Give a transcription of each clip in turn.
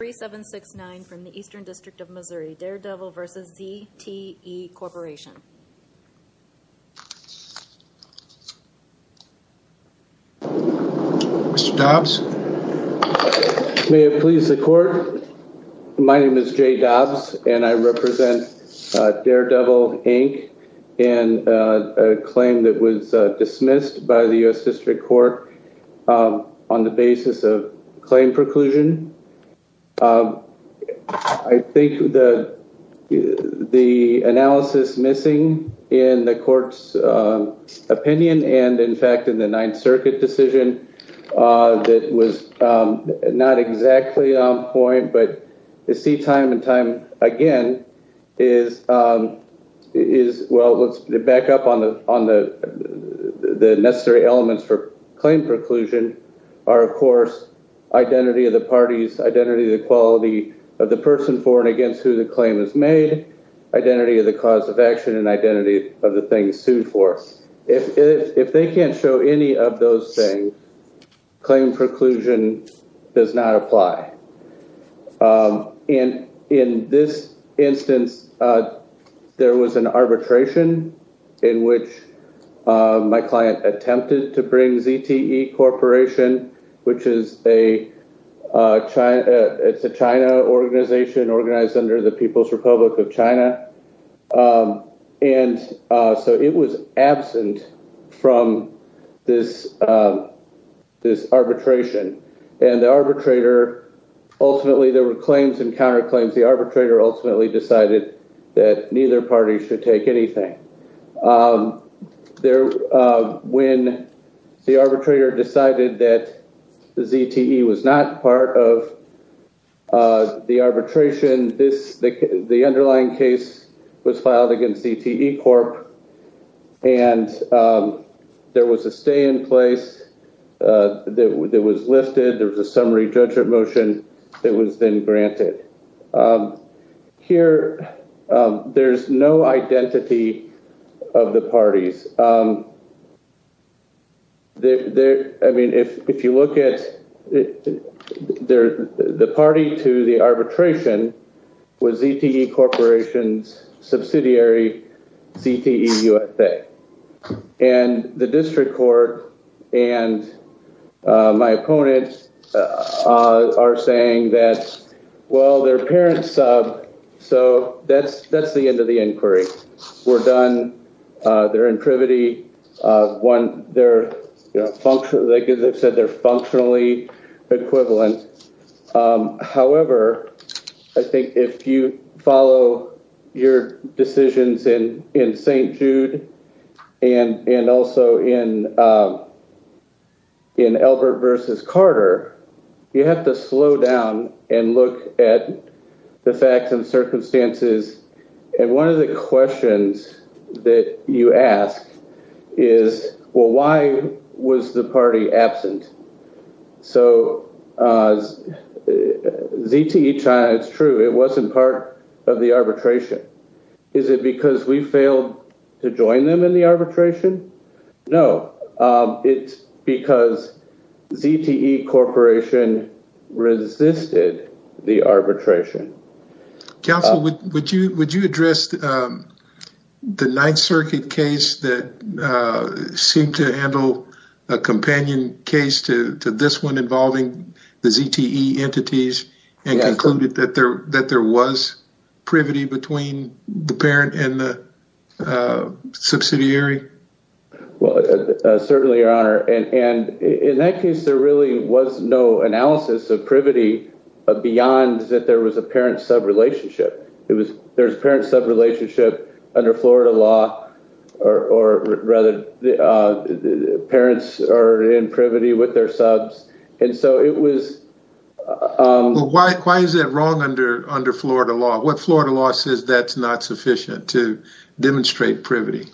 3769 from the Eastern District of Missouri, Daredevil v. ZTE Corporation. Mr. Dobbs. May it please the court. My name is Jay Dobbs and I represent Daredevil, Inc. in a claim that was dismissed by the I think the analysis missing in the court's opinion and, in fact, in the Ninth Circuit decision that was not exactly on point, but I see time and time again, is, well, let's back up on the necessary elements for claim preclusion are, of course, identity of the parties, identity, the quality of the person for and against who the claim is made, identity of the cause of action and identity of the things sued for. If they can't show any of those things, claim preclusion does not apply. And in this instance, there was an arbitration in which my client attempted to bring ZTE Corporation, which is a China organization organized under the People's Republic of China. And so it was absent from this arbitration and the arbitrator. Ultimately, there were claims and counterclaims. The arbitrator ultimately decided that neither party should take anything there. When the arbitrator decided that ZTE was not part of the arbitration, the underlying case was filed against ZTE Corp. And there was a stay in place that was lifted. There was a summary judgment motion that was then granted. Here, there's no identity of the parties. I mean, if you look at the party to the arbitration was ZTE Corporation's subsidiary, ZTE USA. And the district court and my opponents are saying that, well, their parents, so that's the end of the inquiry. We're done. They're in privity. They said they're functionally equivalent. However, I think if you follow your decisions in St. Jude and also in Albert versus Carter, you have to slow down and look at the facts and circumstances. And one of the questions that you ask is, well, why was the party absent? So ZTE China, it's true, it wasn't part of the arbitration. Is it because we failed to join them in the arbitration? No, it's because ZTE Corporation resisted the arbitration. Counsel, would you address the Ninth Circuit case that seemed to handle a companion case to this one involving the ZTE entities and concluded that there was privity between the parent and the subsidiary? Well, certainly, Your Honor. And in that case, there really was no analysis of privity beyond that there was a parent sub relationship. It was there's a parent sub relationship under Florida law or rather the parents are in privity with their subs. And so it was. Why is it wrong under Florida law? What Florida law says that's not sufficient to demonstrate privity?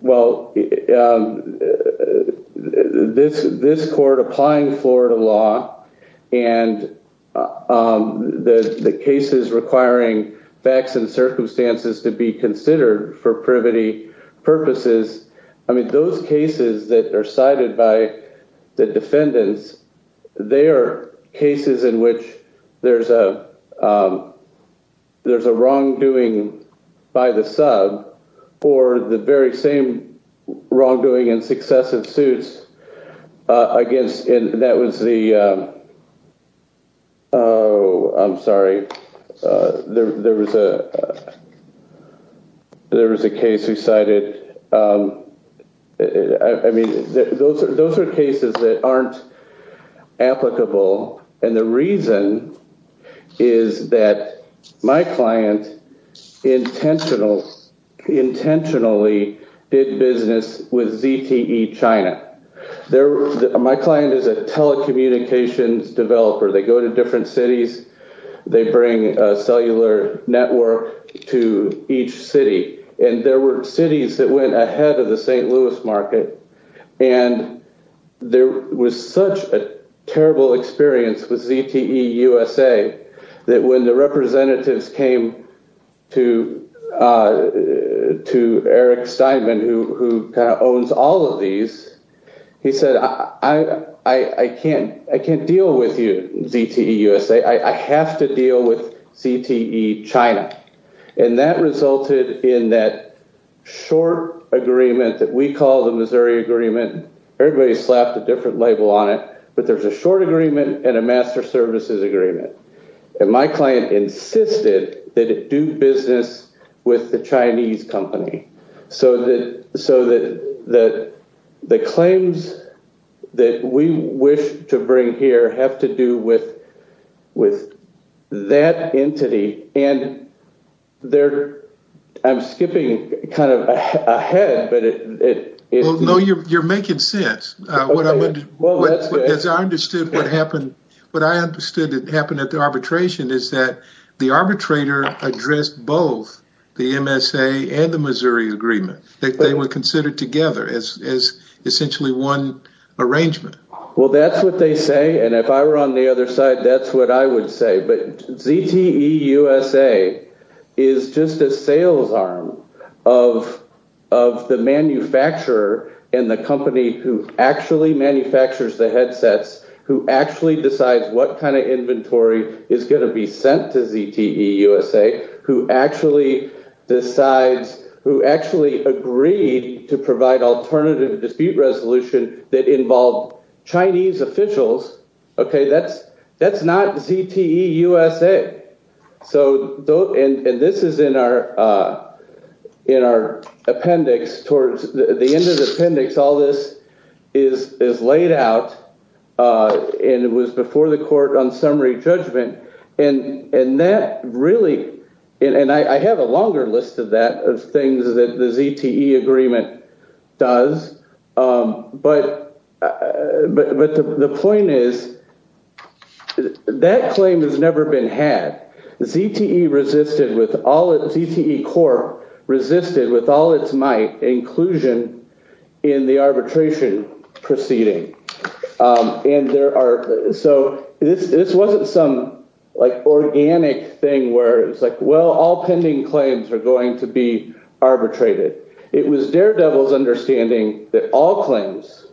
Well, this court applying Florida law and the cases requiring facts and circumstances to be considered for privity purposes. I mean, those cases that are cited by the defendants, they are cases in which there's a there's a wrongdoing by the sub for the very same wrongdoing and successive suits against. And that was the. Oh, I'm sorry. There was a there was a case you cited. I mean, those are those are cases that aren't applicable. And the reason is that my client intentional intentionally did business with ZTE China. My client is a telecommunications developer. They go to different cities. They bring a cellular network to each city. And there were cities that went ahead of the St. Louis market. And there was such a terrible experience with ZTE USA that when the representatives came to to Eric Steinman, who owns all of these, he said, I can't I can't deal with you. ZTE USA. I have to deal with ZTE China. And that resulted in that short agreement that we call the Missouri agreement. Everybody slapped a different label on it. But there's a short agreement and a master services agreement. And my client insisted that it do business with the Chinese company so that so that that the claims that we wish to bring here have to do with with that entity. And there I'm skipping kind of ahead. No, you're making sense. What I understood what happened. What I understood that happened at the arbitration is that the arbitrator addressed both the MSA and the Missouri agreement. They were considered together as essentially one arrangement. Well, that's what they say. And if I were on the other side, that's what I would say. But ZTE USA is just a sales arm of of the manufacturer and the company who actually manufactures the headsets, who actually decides what kind of inventory is going to be sent to ZTE USA, who actually decides who actually agreed to provide alternative dispute resolution that involve Chinese officials. OK, that's that's not ZTE USA. So and this is in our in our appendix towards the end of the appendix. All this is is laid out and it was before the court on summary judgment. And and that really and I have a longer list of that of things that the ZTE agreement does. But but the point is that claim has never been had. ZTE resisted with all ZTE core resisted with all its might inclusion in the arbitration proceeding. And there are so this this wasn't some like organic thing where it's like, well, all pending claims are going to be arbitrated. It was daredevils understanding that all claims,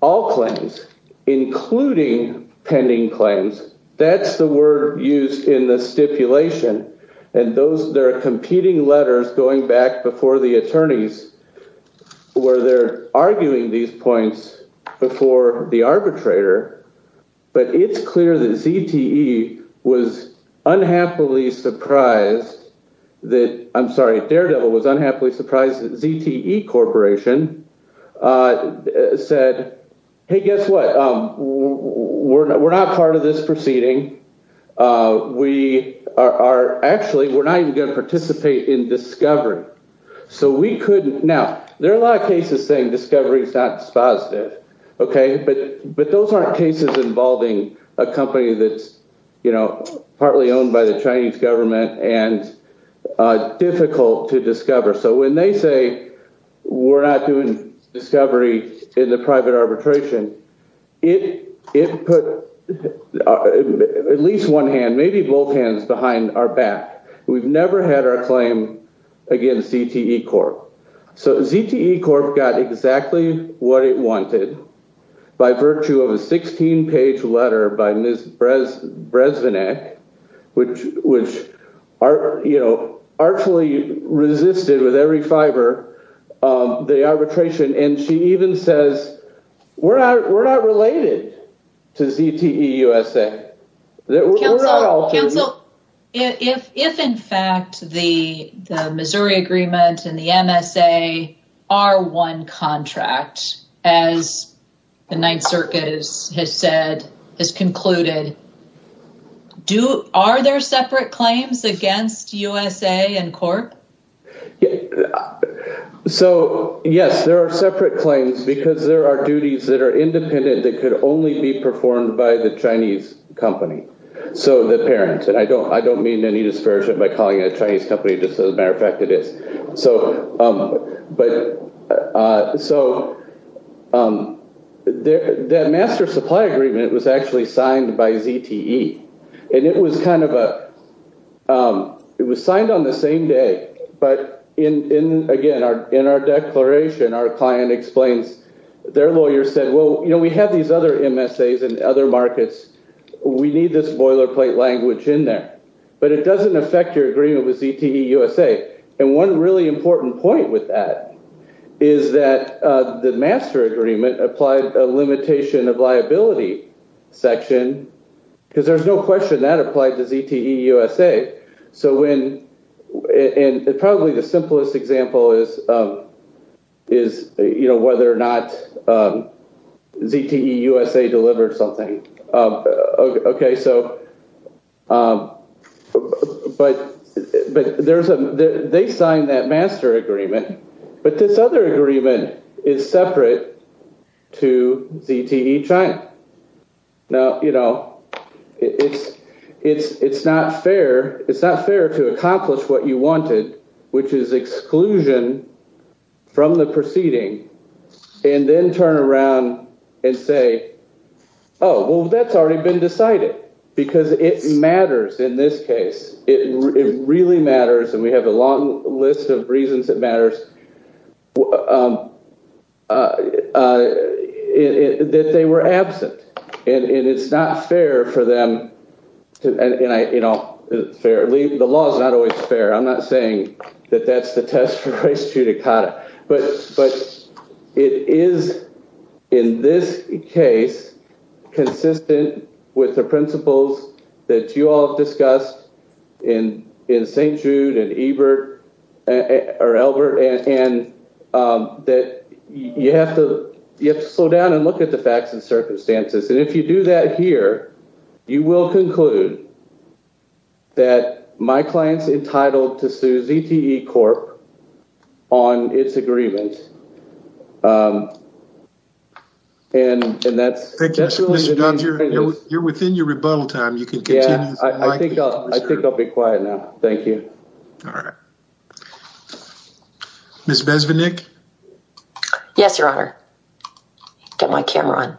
all claims, including pending claims. That's the word used in the stipulation. And those there are competing letters going back before the attorneys where they're arguing these points before the arbitrator. But it's clear that ZTE was unhappily surprised that I'm sorry, daredevil was unhappily surprised that ZTE Corporation said, hey, guess what? We're not part of this proceeding. We are actually we're not even going to participate in discovery. So we couldn't. Now, there are a lot of cases saying discovery is not positive. OK, but but those aren't cases involving a company that's, you know, partly owned by the Chinese government and difficult to discover. So when they say we're not doing discovery in the private arbitration, it it put at least one hand, maybe both hands behind our back. We've never had our claim against ZTE Corp. So ZTE Corp got exactly what it wanted by virtue of a 16 page letter by Ms. Brezvanec, which which are, you know, artfully resisted with every fiber of the arbitration. And she even says we're not we're not related to ZTE USA. Counsel, if if in fact the the Missouri agreement and the MSA are one contract, as the Ninth Circuit has said, has concluded. Do are there separate claims against USA and Corp? So, yes, there are separate claims because there are duties that are independent that could only be performed by the Chinese company. So the parents and I don't I don't mean any disparagement by calling it a Chinese company. Just as a matter of fact, it is so. But so the master supply agreement was actually signed by ZTE. And it was kind of a it was signed on the same day. But in again, our in our declaration, our client explains their lawyer said, well, you know, we have these other MSAs and other markets. We need this boilerplate language in there, but it doesn't affect your agreement with ZTE USA. And one really important point with that is that the master agreement applied a limitation of liability section. Because there's no question that applied to ZTE USA. So when and probably the simplest example is, is, you know, whether or not ZTE USA delivered something. OK, so but but there's a they signed that master agreement. But this other agreement is separate to ZTE China. Now, you know, it's it's it's not fair. It's not fair to accomplish what you wanted, which is exclusion from the proceeding. And then turn around and say, oh, well, that's already been decided because it matters in this case. It really matters. And we have a long list of reasons that matters. That they were absent and it's not fair for them. And, you know, fairly, the law is not always fair. I'm not saying that that's the test for race judicata. But but it is in this case consistent with the principles that you all have discussed in in St. Jude and Ebert or Elbert and that you have to you have to slow down and look at the facts and circumstances. And if you do that here, you will conclude. That my client's entitled to sue ZTE Corp. On its agreement. And that's. Thank you. You're within your rebuttal time. You can continue. I think I'll be quiet now. Thank you. All right. Ms. Bezvinick. Yes, your honor. Get my camera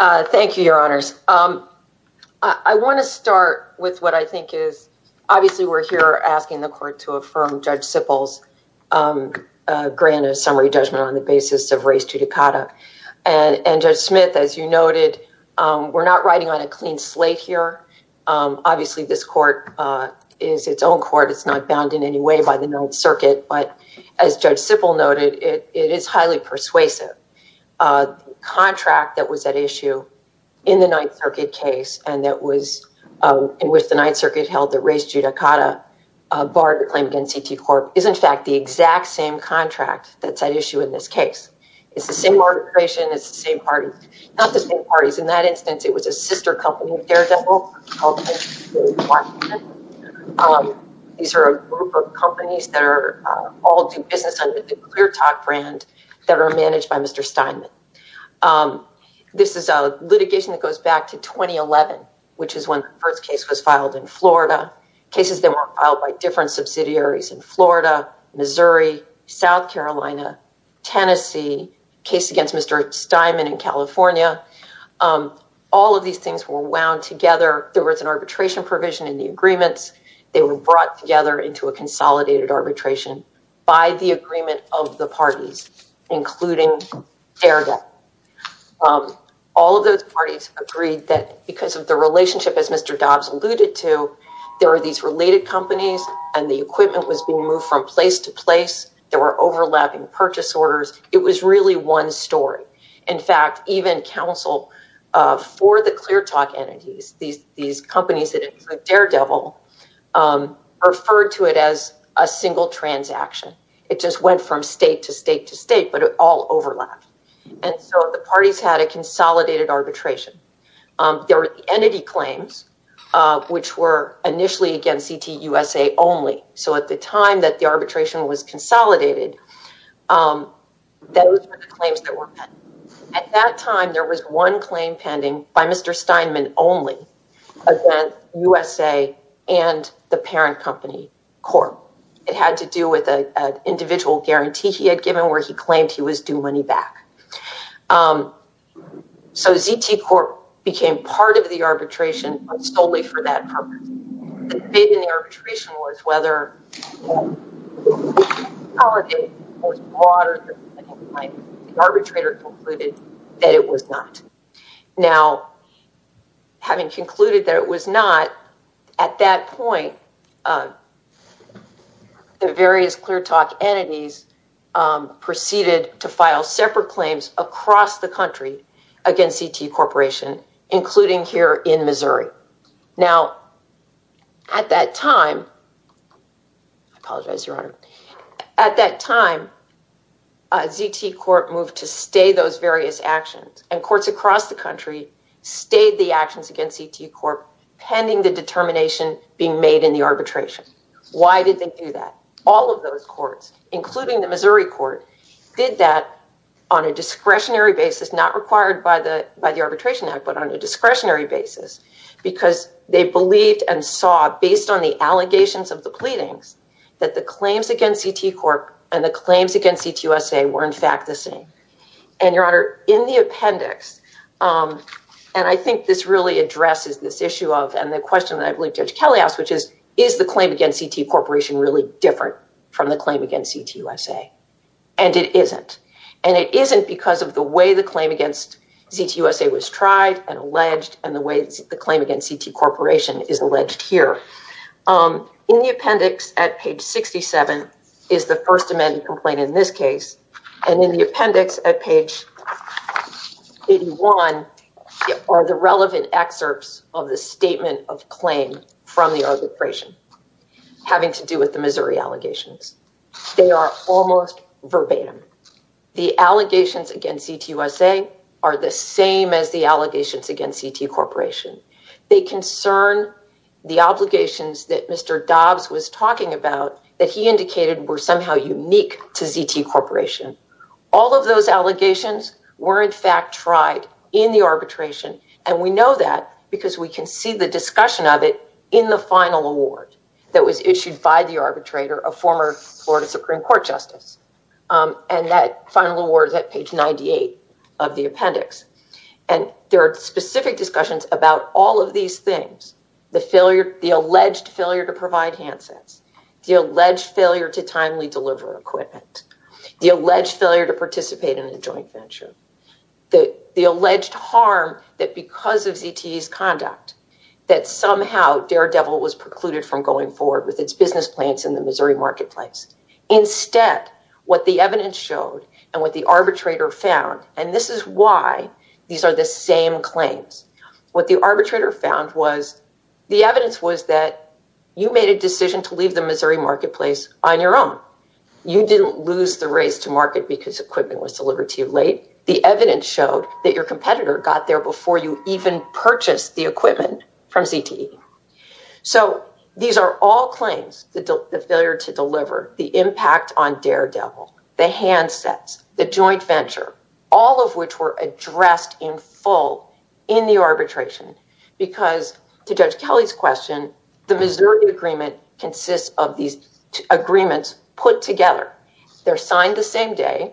on. Thank you, your honors. I want to start with what I think is obviously we're here asking the court to affirm Judge Sippel's grant of summary judgment on the basis of race judicata. And Judge Smith, as you noted, we're not riding on a clean slate here. Obviously, this court is its own court. It's not bound in any way by the Ninth Circuit. But as Judge Sippel noted, it is highly persuasive contract that was at issue in the Ninth Circuit case. And that was in which the Ninth Circuit held that race judicata barred the claim against ZTE Corp. Is, in fact, the exact same contract that's at issue in this case. It's the same organization. It's the same party. Not the same parties. In that instance, it was a sister company, Daredevil. These are a group of companies that are all do business under the ClearTalk brand that are managed by Mr. Steinman. This is a litigation that goes back to 2011, which is when the first case was filed in Florida. Cases that were filed by different subsidiaries in Florida, Missouri, South Carolina, Tennessee. Case against Mr. Steinman in California. All of these things were wound together. There was an arbitration provision in the agreements. They were brought together into a consolidated arbitration by the agreement of the parties, including Daredevil. All of those parties agreed that because of the relationship, as Mr. Dobbs alluded to, there are these related companies and the equipment was being moved from place to place. There were overlapping purchase orders. It was really one story. In fact, even counsel for the ClearTalk entities, these companies that include Daredevil, referred to it as a single transaction. It just went from state to state to state, but it all overlapped. The parties had a consolidated arbitration. There were entity claims, which were initially, again, CTUSA only. At the time that the arbitration was consolidated, those were the claims that were pending. At that time, there was one claim pending by Mr. Steinman only. USA and the parent company Corp. It had to do with an individual guarantee he had given where he claimed he was due money back. So ZT Corp. became part of the arbitration, but solely for that purpose. The debate in the arbitration was whether the consolidation was brought or not. The arbitrator concluded that it was not. Now, having concluded that it was not, at that point, the various ClearTalk entities proceeded to file separate claims across the country against ZT Corporation, including here in Missouri. Now, at that time, ZT Corp. moved to stay those various actions. And courts across the country stayed the actions against ZT Corp. pending the determination being made in the arbitration. Why did they do that? All of those courts, including the Missouri court, did that on a discretionary basis, not required by the arbitration act, but on a discretionary basis. Because they believed and saw, based on the allegations of the pleadings, that the claims against ZT Corp. and the claims against CTUSA were, in fact, the same. And, Your Honor, in the appendix, and I think this really addresses this issue of, and the question that I believe Judge Kelly asked, which is, is the claim against ZT Corporation really different from the claim against CTUSA? And it isn't. And it isn't because of the way the claim against ZT USA was tried and alleged and the way the claim against ZT Corporation is alleged here. In the appendix at page 67 is the first amendment complaint in this case. And in the appendix at page 81 are the relevant excerpts of the statement of claim from the arbitration having to do with the Missouri allegations. They are almost verbatim. The allegations against ZT USA are the same as the allegations against ZT Corporation. They concern the obligations that Mr. Dobbs was talking about that he indicated were somehow unique to ZT Corporation. All of those allegations were, in fact, tried in the arbitration. And we know that because we can see the discussion of it in the final award that was issued by the arbitrator, a former Florida Supreme Court justice. And that final award is at page 98 of the appendix. And there are specific discussions about all of these things. The alleged failure to provide handsets. The alleged failure to timely deliver equipment. The alleged failure to participate in a joint venture. The alleged harm that because of ZT's conduct that somehow daredevil was precluded from going forward with its business plans in the Missouri marketplace. Instead, what the evidence showed and what the arbitrator found, and this is why these are the same claims. What the arbitrator found was the evidence was that you made a decision to leave the Missouri marketplace on your own. You didn't lose the race to market because equipment was delivered to you late. The evidence showed that your competitor got there before you even purchased the equipment from ZT. So these are all claims. The failure to deliver. The impact on daredevil. The handsets. The joint venture. All of which were addressed in full in the arbitration. Because to Judge Kelly's question, the Missouri agreement consists of these agreements put together. They're signed the same day.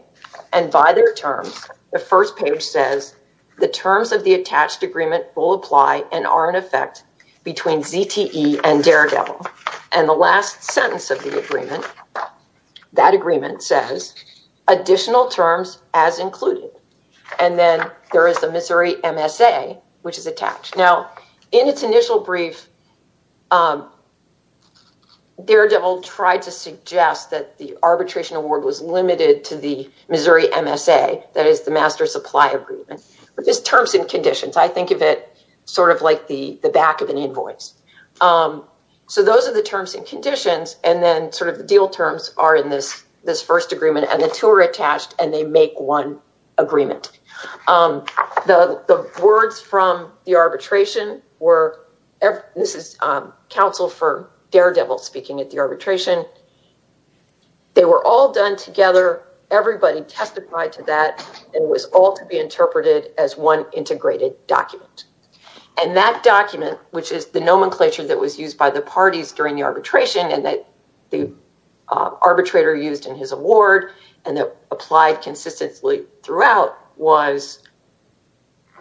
And by their terms, the first page says the terms of the attached agreement will apply and are in effect between ZTE and daredevil. And the last sentence of the agreement, that agreement says additional terms as included. And then there is the Missouri MSA, which is attached. Now, in its initial brief, daredevil tried to suggest that the arbitration award was limited to the Missouri MSA. That is the master supply agreement. But there's terms and conditions. I think of it sort of like the back of an invoice. So those are the terms and conditions. And then sort of the deal terms are in this first agreement. And the two are attached and they make one agreement. The words from the arbitration were this is counsel for daredevil speaking at the arbitration. They were all done together. Everybody testified to that. And it was all to be interpreted as one integrated document. And that document, which is the nomenclature that was used by the parties during the arbitration and that the arbitrator used in his award. And that applied consistently throughout was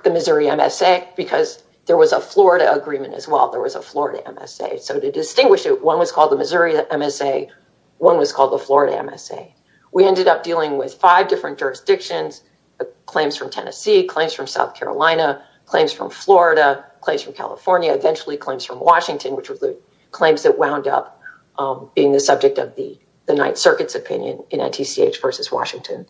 the Missouri MSA. Because there was a Florida agreement as well. There was a Florida MSA. So to distinguish it, one was called the Missouri MSA. One was called the Florida MSA. We ended up dealing with five different jurisdictions. Claims from Tennessee. Claims from South Carolina. Claims from Florida. Claims from California. Claims from Washington. Which was the claims that wound up being the subject of the Ninth Circuit's opinion in NTCH versus Washington.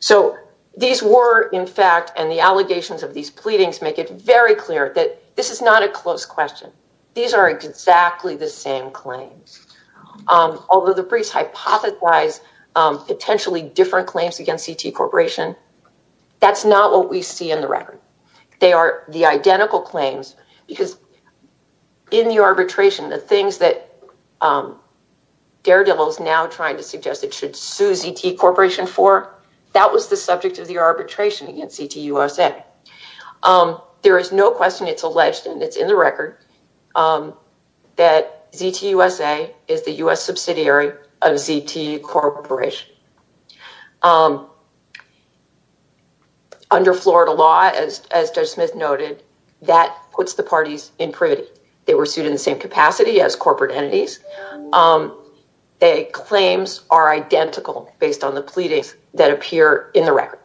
So these were, in fact, and the allegations of these pleadings make it very clear that this is not a close question. These are exactly the same claims. Although the briefs hypothesize potentially different claims against CT Corporation, that's not what we see in the record. They are the identical claims. Because in the arbitration, the things that Daredevil is now trying to suggest it should sue CT Corporation for, that was the subject of the arbitration against CT USA. There is no question it's alleged, and it's in the record, that CT USA is the U.S. subsidiary of CT Corporation. Under Florida law, as Judge Smith noted, that puts the parties in privity. They were sued in the same capacity as corporate entities. The claims are identical based on the pleadings that appear in the record.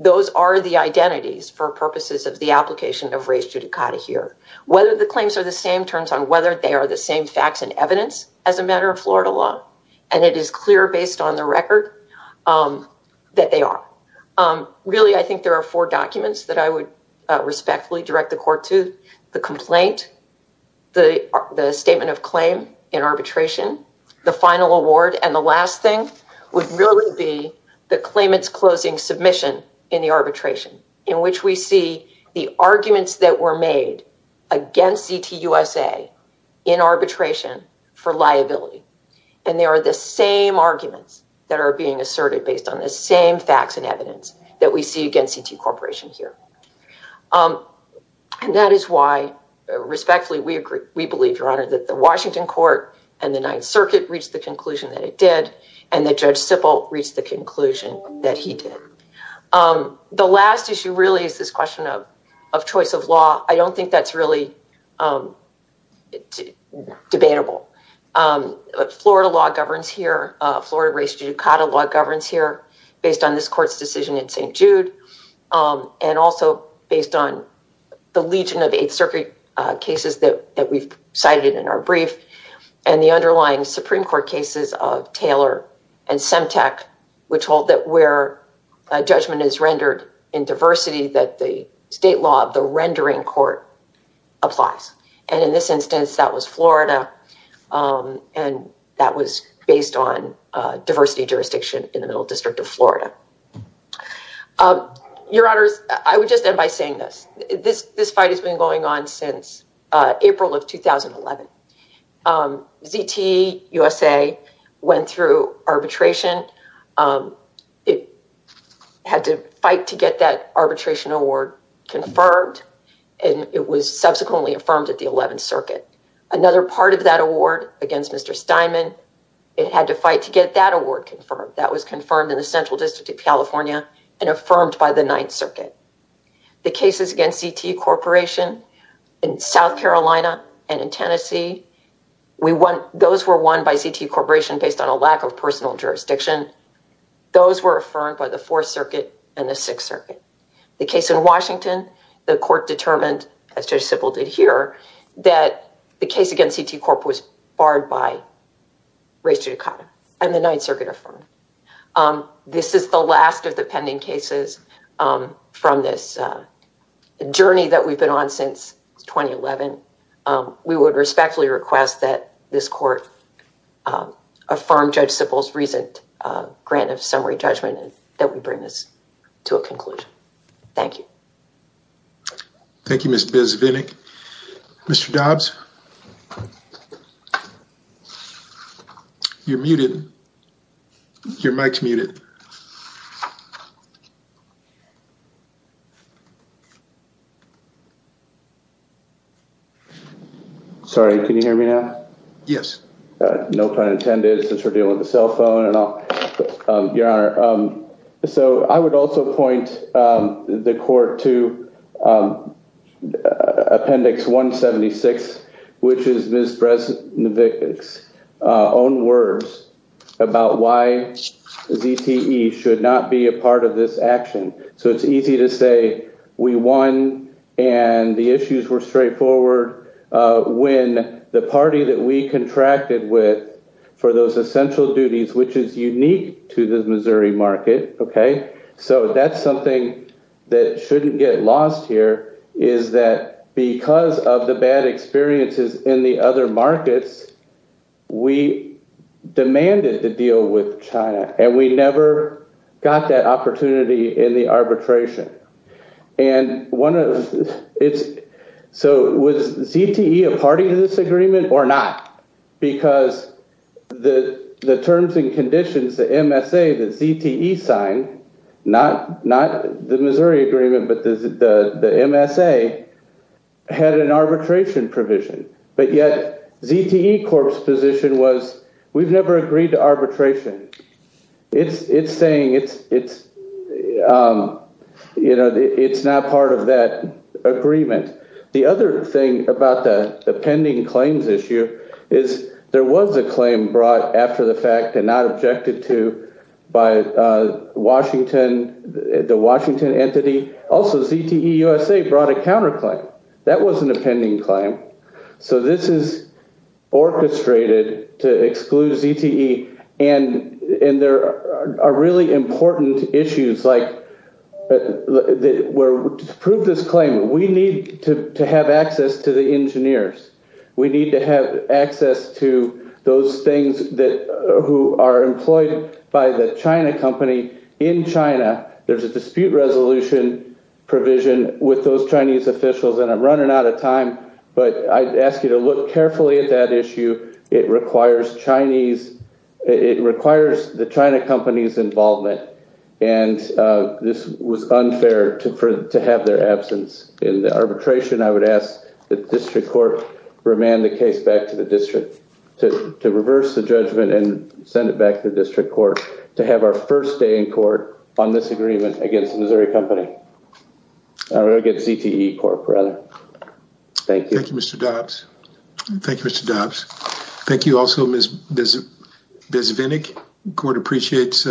Those are the identities for purposes of the application of race judicata here. Whether the claims are the same turns on whether they are the same facts and evidence as a matter of Florida law. And it is clear based on the record that they are. Really, I think there are four documents that I would respectfully direct the court to. The complaint, the statement of claim in arbitration, the final award, and the last thing would really be the claimant's closing submission in the arbitration. In which we see the arguments that were made against CT USA in arbitration for liability. And they are the same arguments that are being asserted based on the same facts and evidence that we see against CT Corporation here. And that is why, respectfully, we believe, Your Honor, that the Washington court and the Ninth Circuit reached the conclusion that it did, and that Judge Sippel reached the conclusion that he did. The last issue really is this question of choice of law. I don't think that's really debatable. Florida law governs here. Florida race judicata law governs here based on this court's decision in St. Jude. And also based on the legion of Eighth Circuit cases that we've cited in our brief. And the underlying Supreme Court cases of Taylor and Semtec, which hold that where a judgment is rendered in diversity, that the state law of the rendering court applies. And in this instance, that was Florida. And that was based on diversity jurisdiction in the Middle District of Florida. Your Honors, I would just end by saying this. This fight has been going on since April of 2011. ZTUSA went through arbitration. It had to fight to get that arbitration award confirmed. And it was subsequently affirmed at the Eleventh Circuit. Another part of that award against Mr. Steinman, it had to fight to get that award confirmed. That was confirmed in the Central District of California and affirmed by the Ninth Circuit. The cases against ZT Corporation in South Carolina and in Tennessee, those were won by ZT Corporation based on a lack of personal jurisdiction. Those were affirmed by the Fourth Circuit and the Sixth Circuit. The case in Washington, the court determined, as Judge Sibel did here, that the case against ZT Corp was barred by race judicata. And the Ninth Circuit affirmed it. This is the last of the pending cases from this journey that we've been on since 2011. We would respectfully request that this court affirm Judge Sibel's recent grant of summary judgment and that we bring this to a conclusion. Thank you. Thank you, Ms. Bisvinik. Mr. Dobbs? You're muted. Your mic's muted. Sorry. Can you hear me now? Yes. No pun intended, since we're dealing with a cell phone. Your Honor, so I would also point the court to Appendix 176. Which is Ms. Bresnick's own words about why ZTE should not be a part of this action. So it's easy to say we won and the issues were straightforward when the party that we contracted with for those essential duties, which is unique to the Missouri market, okay? So that's something that shouldn't get lost here, is that because of the bad experiences in the other markets, we demanded to deal with China. And we never got that opportunity in the arbitration. And so was ZTE a party to this agreement or not? Because the terms and conditions, the MSA, the ZTE sign, not the Missouri agreement, but the MSA, had an arbitration provision. But yet ZTE Corp's position was we've never agreed to arbitration. It's saying it's not part of that agreement. The other thing about the pending claims issue is there was a claim brought after the fact and not objected to by Washington, the Washington entity. Also ZTE USA brought a counterclaim. That was an appending claim. So this is orchestrated to exclude ZTE. And there are really important issues like to prove this claim, we need to have access to the engineers. We need to have access to those things that who are employed by the China company in China. There's a dispute resolution provision with those Chinese officials. And I'm running out of time. But I ask you to look carefully at that issue. It requires the China company's involvement. And this was unfair to have their absence. In the arbitration, I would ask the district court to remand the case back to the district, to reverse the judgment and send it back to the district court, to have our first day in court on this agreement against the Missouri company. Or against ZTE Corp, rather. Thank you. Thank you, Mr. Dobbs. Thank you, Mr. Dobbs. Thank you also, Ms. Vinnick. The court appreciates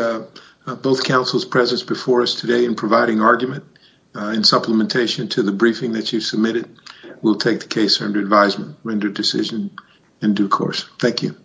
both counsel's presence before us today in providing argument in supplementation to the briefing that you submitted. We'll take the case under advisement, render decision in due course. Thank you.